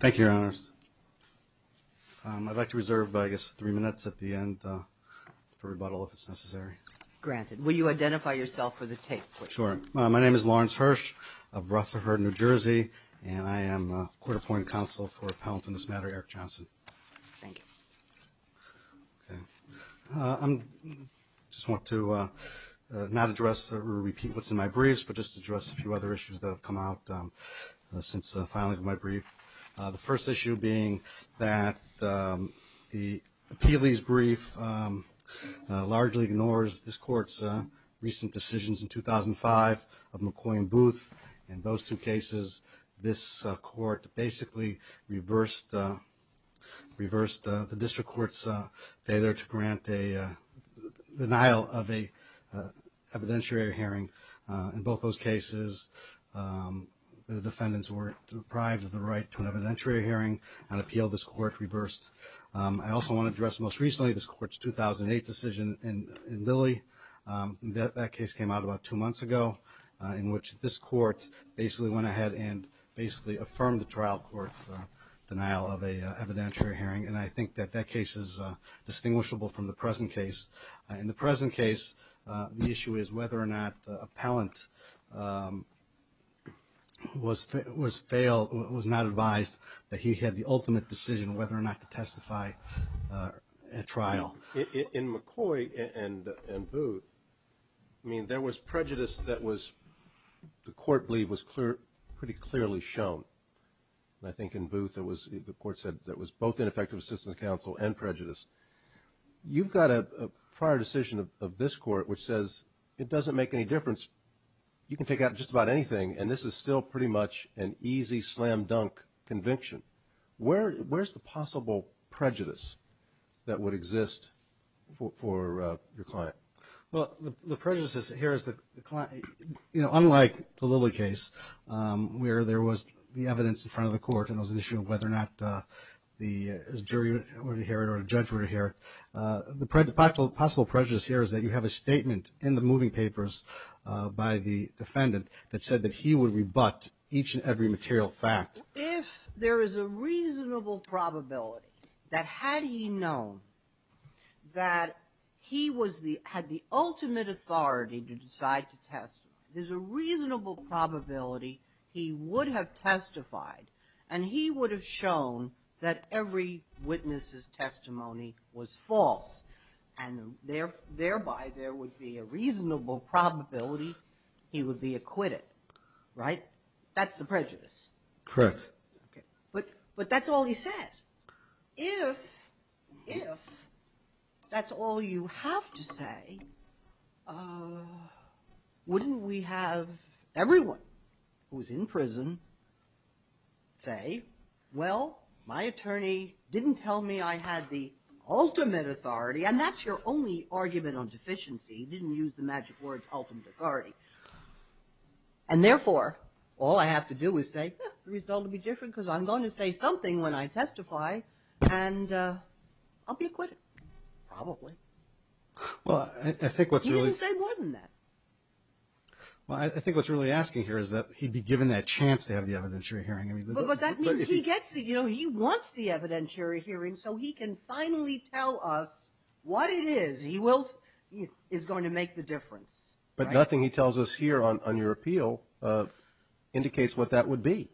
Thank you, Your Honors. I'd like to reserve three minutes at the end for rebuttal if it's necessary. Granted. Will you identify yourself for the tape, please? Sure. My name is Lawrence Hirsch of Rutherford, New Jersey, and I am a court-appointed counsel for Appellant on this matter, Eric Johnson. Thank you. I just want to not address or repeat what's in my briefs, but just address a few other issues that have come out since filing my brief. The first issue being that the appealee's brief largely ignores this Court's recent decisions in 2005 of McCoy and Booth. In those two cases, this Court basically reversed the district court's failure to grant a denial of an evidentiary hearing. In both those cases, the defendants were deprived of the right to an evidentiary hearing. On appeal, this Court reversed. I also want to address, most recently, this Court's 2008 decision in Lilly. That case came out about two months ago, in which this Court basically went ahead and basically affirmed the trial court's denial of an evidentiary hearing. And I think that that case is distinguishable from the present case. In the present case, the issue is whether or not Appellant was not advised that he had the ultimate decision whether or not to testify at trial. In McCoy and Booth, I mean, there was prejudice that the Court believed was pretty clearly shown. And I think in Booth, the Court said there was both ineffective assistance of counsel and prejudice. You've got a prior decision of this Court which says it doesn't make any difference. You can take out just about anything, and this is still pretty much an easy slam-dunk conviction. Where's the possible prejudice that would exist for your client? Well, the prejudice here is that, you know, unlike the Lilly case, where there was the evidence in front of the Court, and it was an issue of whether or not the jury would inherit or a judge would inherit, the possible prejudice here is that you have a statement in the moving papers by the defendant that said that he would rebut each and every material fact. If there is a reasonable probability that had he known that he was the – had the ultimate authority to decide to testify, there's a reasonable probability he would have testified and he would have shown that every witness's testimony was false, and thereby there would be a reasonable probability he would be acquitted, right? That's the prejudice. Correct. But that's all he says. If that's all you have to say, wouldn't we have everyone who was in prison say, well, my attorney didn't tell me I had the ultimate authority, and that's your only argument on deficiency. He didn't use the magic words ultimate authority. And therefore, all I have to do is say, well, the result will be different because I'm going to say something when I testify, and I'll be acquitted, probably. Well, I think what's really – He didn't say more than that. Well, I think what's really asking here is that he'd be given that chance to have the evidentiary hearing. But that means he gets – you know, he wants the evidentiary hearing so he can finally tell us what it is. He will – is going to make the difference. But nothing he tells us here on your appeal indicates what that would be.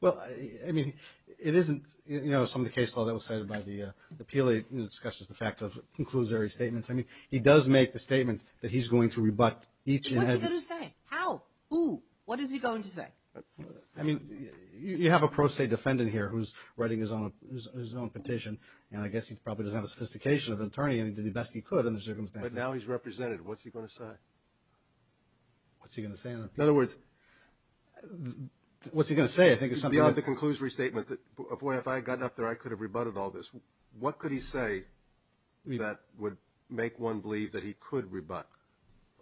Well, I mean, it isn't – you know, some of the case law that was cited by the appeal, it discusses the fact of conclusory statements. I mean, he does make the statement that he's going to rebut each and every – What's he going to say? How? Who? What is he going to say? I mean, you have a pro se defendant here who's writing his own petition, and I guess he probably doesn't have the sophistication of an attorney, and he did the best he could in the circumstances. But now he's represented. What's he going to say? What's he going to say? In other words – What's he going to say? I think it's something that – Beyond the conclusory statement, if I had gotten up there, I could have rebutted all this. What could he say that would make one believe that he could rebut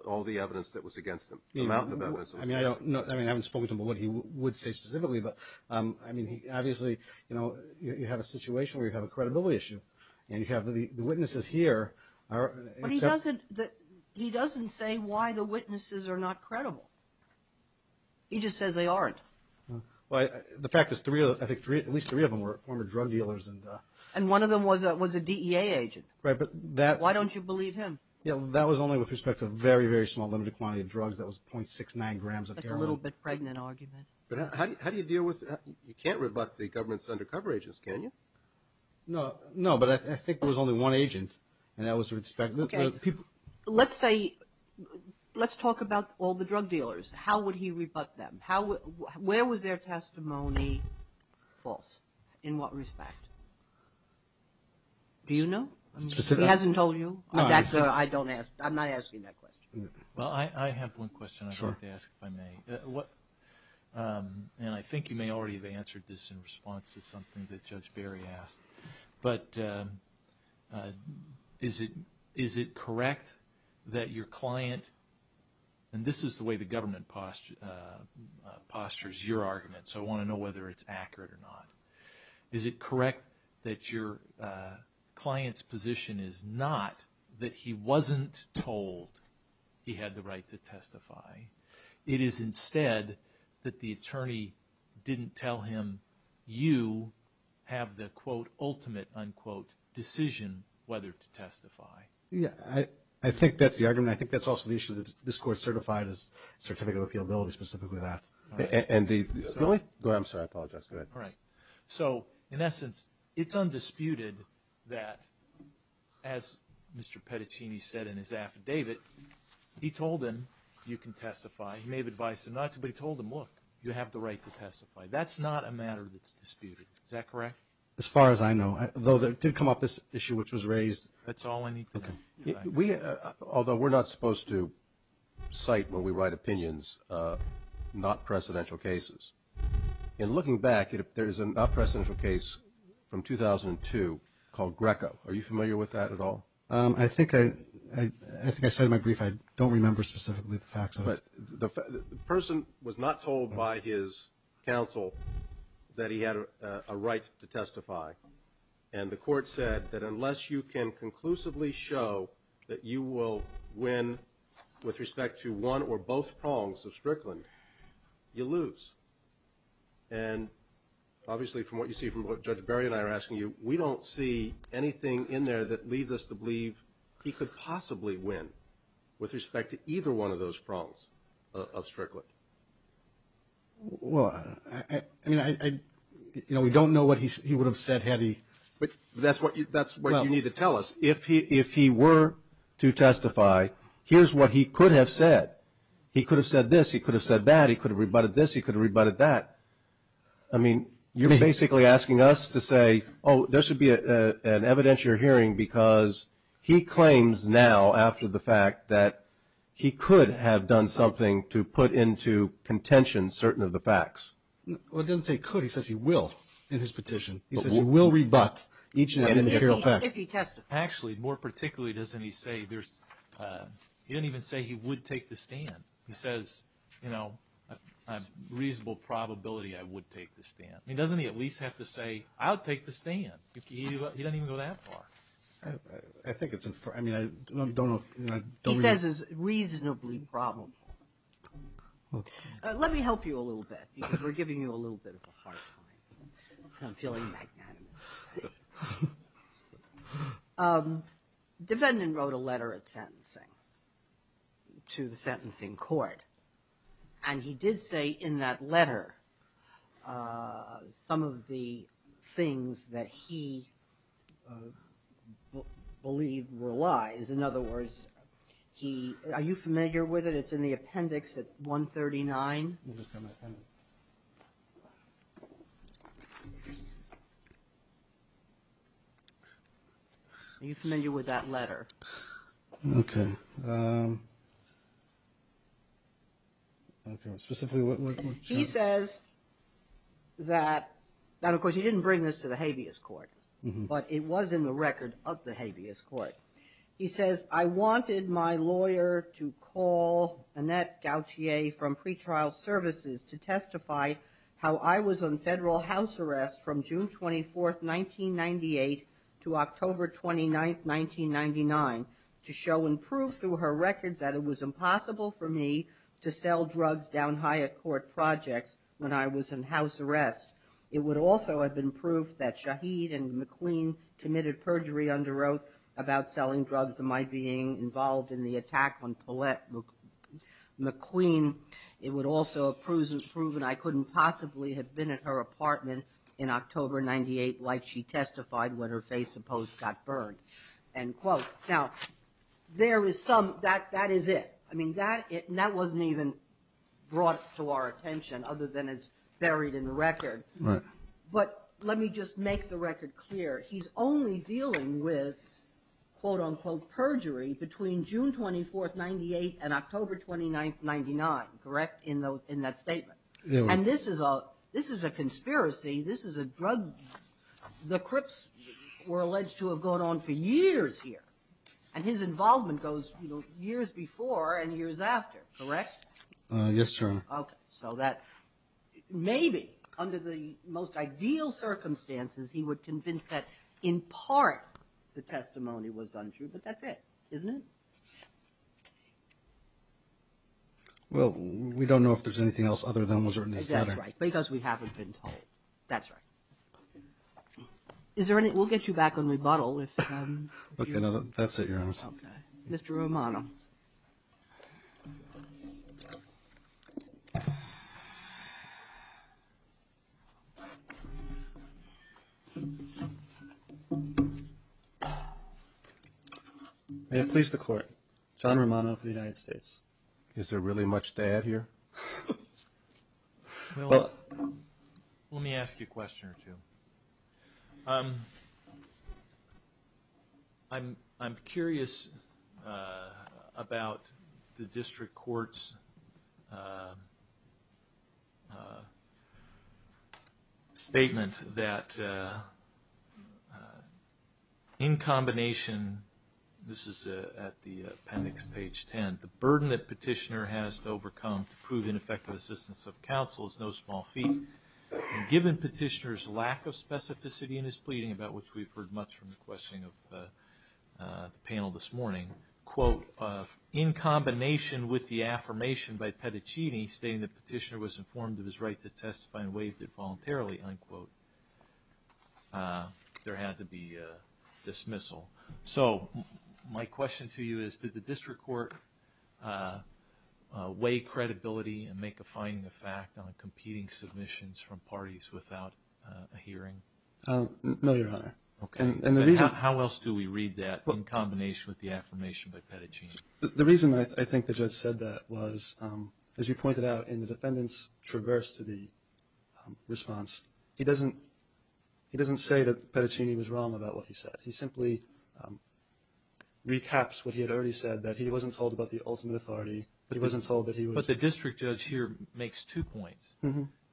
all the evidence that was against him, the amount of evidence? I mean, I don't – I mean, I haven't spoken to him about what he would say specifically, but I mean, obviously, you know, you have a situation where you have a credibility issue, and you have the witnesses here are – But he doesn't – he doesn't say why the witnesses are not credible. He just says they aren't. Well, the fact is at least three of them were former drug dealers. And one of them was a DEA agent. Right, but that – Why don't you believe him? That was only with respect to a very, very small limited quantity of drugs. That was .69 grams of heroin. That's a little bit pregnant argument. But how do you deal with – you can't rebut the government's undercover agents, can you? No, but I think there was only one agent, and that was – Okay, let's say – let's talk about all the drug dealers. How would he rebut them? Where was their testimony false? In what respect? Do you know? He hasn't told you? I'm not asking that question. Well, I have one question I'd like to ask, if I may. And I think you may already have answered this in response to something that Judge Berry asked. But is it correct that your client – and this is the way the government postures your argument, so I want to know whether it's accurate or not. Is it correct that your client's position is not that he wasn't told he had the right to testify? It is instead that the attorney didn't tell him you have the, quote, ultimate, unquote, decision whether to testify. Yeah, I think that's the argument. I think that's also the issue that this Court certified as Certificate of Appealability, specifically that. And the – really? I'm sorry. I apologize. Go ahead. All right. So, in essence, it's undisputed that, as Mr. Pettichini said in his affidavit, he told him you can testify. He may have advised him not to, but he told him, look, you have the right to testify. That's not a matter that's disputed. Is that correct? As far as I know. Though there did come up this issue which was raised. That's all I need to know. Although we're not supposed to cite when we write opinions not precedential cases. In looking back, there's an unprecedented case from 2002 called Greco. Are you familiar with that at all? I think I said in my brief I don't remember specifically the facts of it. But the person was not told by his counsel that he had a right to testify. And the Court said that unless you can conclusively show that you will win with respect to one or both prongs of Strickland, you lose. And obviously from what you see from what Judge Berry and I are asking you, we don't see anything in there that leads us to believe he could possibly win with respect to either one of those prongs of Strickland. Well, I mean, we don't know what he would have said had he. But that's what you need to tell us. If he were to testify, here's what he could have said. He could have said this. He could have said that. He could have rebutted this. He could have rebutted that. I mean, you're basically asking us to say, oh, there should be an evidentiary hearing because he claims now after the fact that he could have done something to put into contention certain of the facts. Well, it doesn't say could. He says he will in his petition. He says he will rebut each and every fact. Actually, more particularly, he didn't even say he would take the stand. He says, you know, a reasonable probability I would take the stand. I mean, doesn't he at least have to say, I'll take the stand? He doesn't even go that far. I think it's – I mean, I don't know if – He says it's reasonably probable. Let me help you a little bit because we're giving you a little bit of a hard time. I'm feeling magnanimous. Defendant wrote a letter at sentencing to the sentencing court, and he did say in that letter some of the things that he believed were lies. In other words, he – are you familiar with it? It's in the appendix at 139. Are you familiar with that letter? Okay. Specifically what – He says that – now, of course, he didn't bring this to the habeas court, but it was in the record of the habeas court. He says, I wanted my lawyer to call Annette Gauthier from pretrial services to testify how I was on federal house arrest from June 24, 1998, to October 29, 1999, to show and prove through her records that it was impossible for me to sell drugs down high at court projects when I was in house arrest. It would also have been proof that Shaheed and McQueen committed perjury under oath about selling drugs and my being involved in the attack on Paulette McQueen. It would also have proven I couldn't possibly have been at her apartment in October 1998 like she testified when her face supposed got burned, end quote. Now, there is some – that is it. I mean, that – and that wasn't even brought to our attention other than as buried in the record. Right. But let me just make the record clear. He's only dealing with, quote, unquote, perjury between June 24, 1998 and October 29, 1999, correct, in those – in that statement. And this is a – this is a conspiracy. This is a drug – the Crips were alleged to have gone on for years here. And his involvement goes, you know, years before and years after, correct? Yes, Your Honor. Okay. So that maybe under the most ideal circumstances he would convince that in part the testimony was untrue, but that's it, isn't it? Well, we don't know if there's anything else other than what was written in the letter. That's right. Because we haven't been told. That's right. Is there any – we'll get you back on rebuttal if you want. Okay, that's it, Your Honor. Okay. Mr. Romano. May it please the Court. John Romano of the United States. Is there really much to add here? Well, let me ask you a question or two. I'm curious about the district court's statement that in combination – this is at the appendix, page 10 – that the burden that Petitioner has to overcome to prove ineffective assistance of counsel is no small feat. And given Petitioner's lack of specificity in his pleading, about which we've heard much from the questioning of the panel this morning, quote, in combination with the affirmation by Pettacini stating that Petitioner was informed of his right to testify and waived it voluntarily, unquote, there had to be a dismissal. So my question to you is, did the district court weigh credibility and make a finding of fact on competing submissions from parties without a hearing? No, Your Honor. Okay. How else do we read that in combination with the affirmation by Pettacini? The reason I think the judge said that was, as you pointed out in the defendant's traverse to the response, he doesn't say that Pettacini was wrong about what he said. He simply recaps what he had already said, that he wasn't told about the ultimate authority. He wasn't told that he was – But the district judge here makes two points.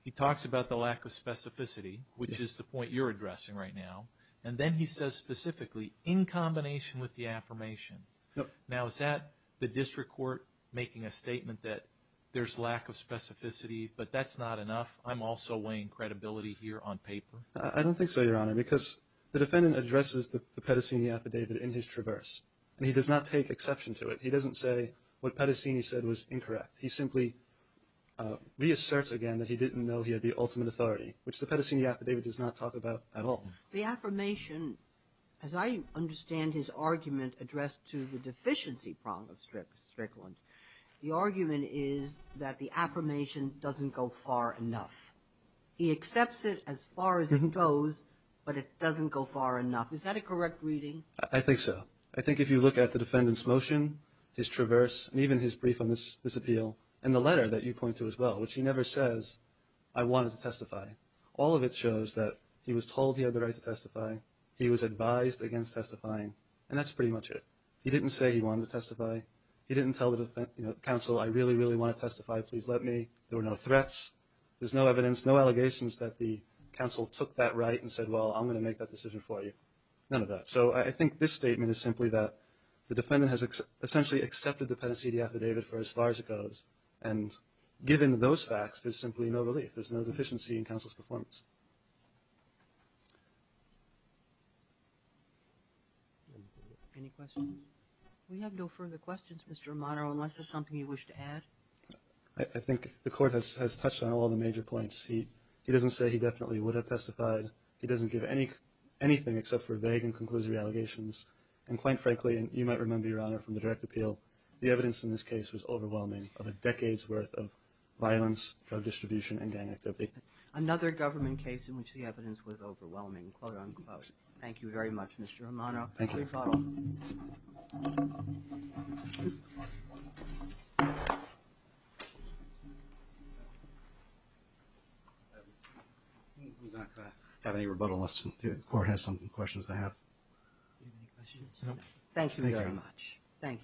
He talks about the lack of specificity, which is the point you're addressing right now, and then he says specifically, in combination with the affirmation. Now, is that the district court making a statement that there's lack of specificity, but that's not enough? I'm also weighing credibility here on paper. I don't think so, Your Honor, because the defendant addresses the Pettacini affidavit in his traverse, and he does not take exception to it. He doesn't say what Pettacini said was incorrect. He simply reasserts again that he didn't know he had the ultimate authority, which the Pettacini affidavit does not talk about at all. The affirmation, as I understand his argument addressed to the deficiency prong of Strickland, the argument is that the affirmation doesn't go far enough. He accepts it as far as it goes, but it doesn't go far enough. Is that a correct reading? I think so. I think if you look at the defendant's motion, his traverse, and even his brief on this appeal, and the letter that you point to as well, which he never says, I wanted to testify. All of it shows that he was told he had the right to testify. He was advised against testifying, and that's pretty much it. He didn't say he wanted to testify. He didn't tell the counsel, I really, really want to testify. Please let me. There were no threats. There's no evidence, no allegations that the counsel took that right and said, well, I'm going to make that decision for you. None of that. So I think this statement is simply that the defendant has essentially accepted the Pettacini affidavit for as far as it goes, and given those facts, there's simply no relief. There's no deficiency in counsel's performance. Any questions? We have no further questions, Mr. Romano, unless there's something you wish to add. I think the court has touched on all the major points. He doesn't say he definitely would have testified. He doesn't give anything except for vague and conclusive allegations, and quite frankly, and you might remember, Your Honor, from the direct appeal, the evidence in this case was overwhelming of a decade's worth of violence, drug distribution, and gang activity. Another government case in which the evidence was overwhelming, quote, unquote. Thank you very much, Mr. Romano. Thank you. Thank you, Your Honor. Thank you very much. Thank you, Mr. Hirsch.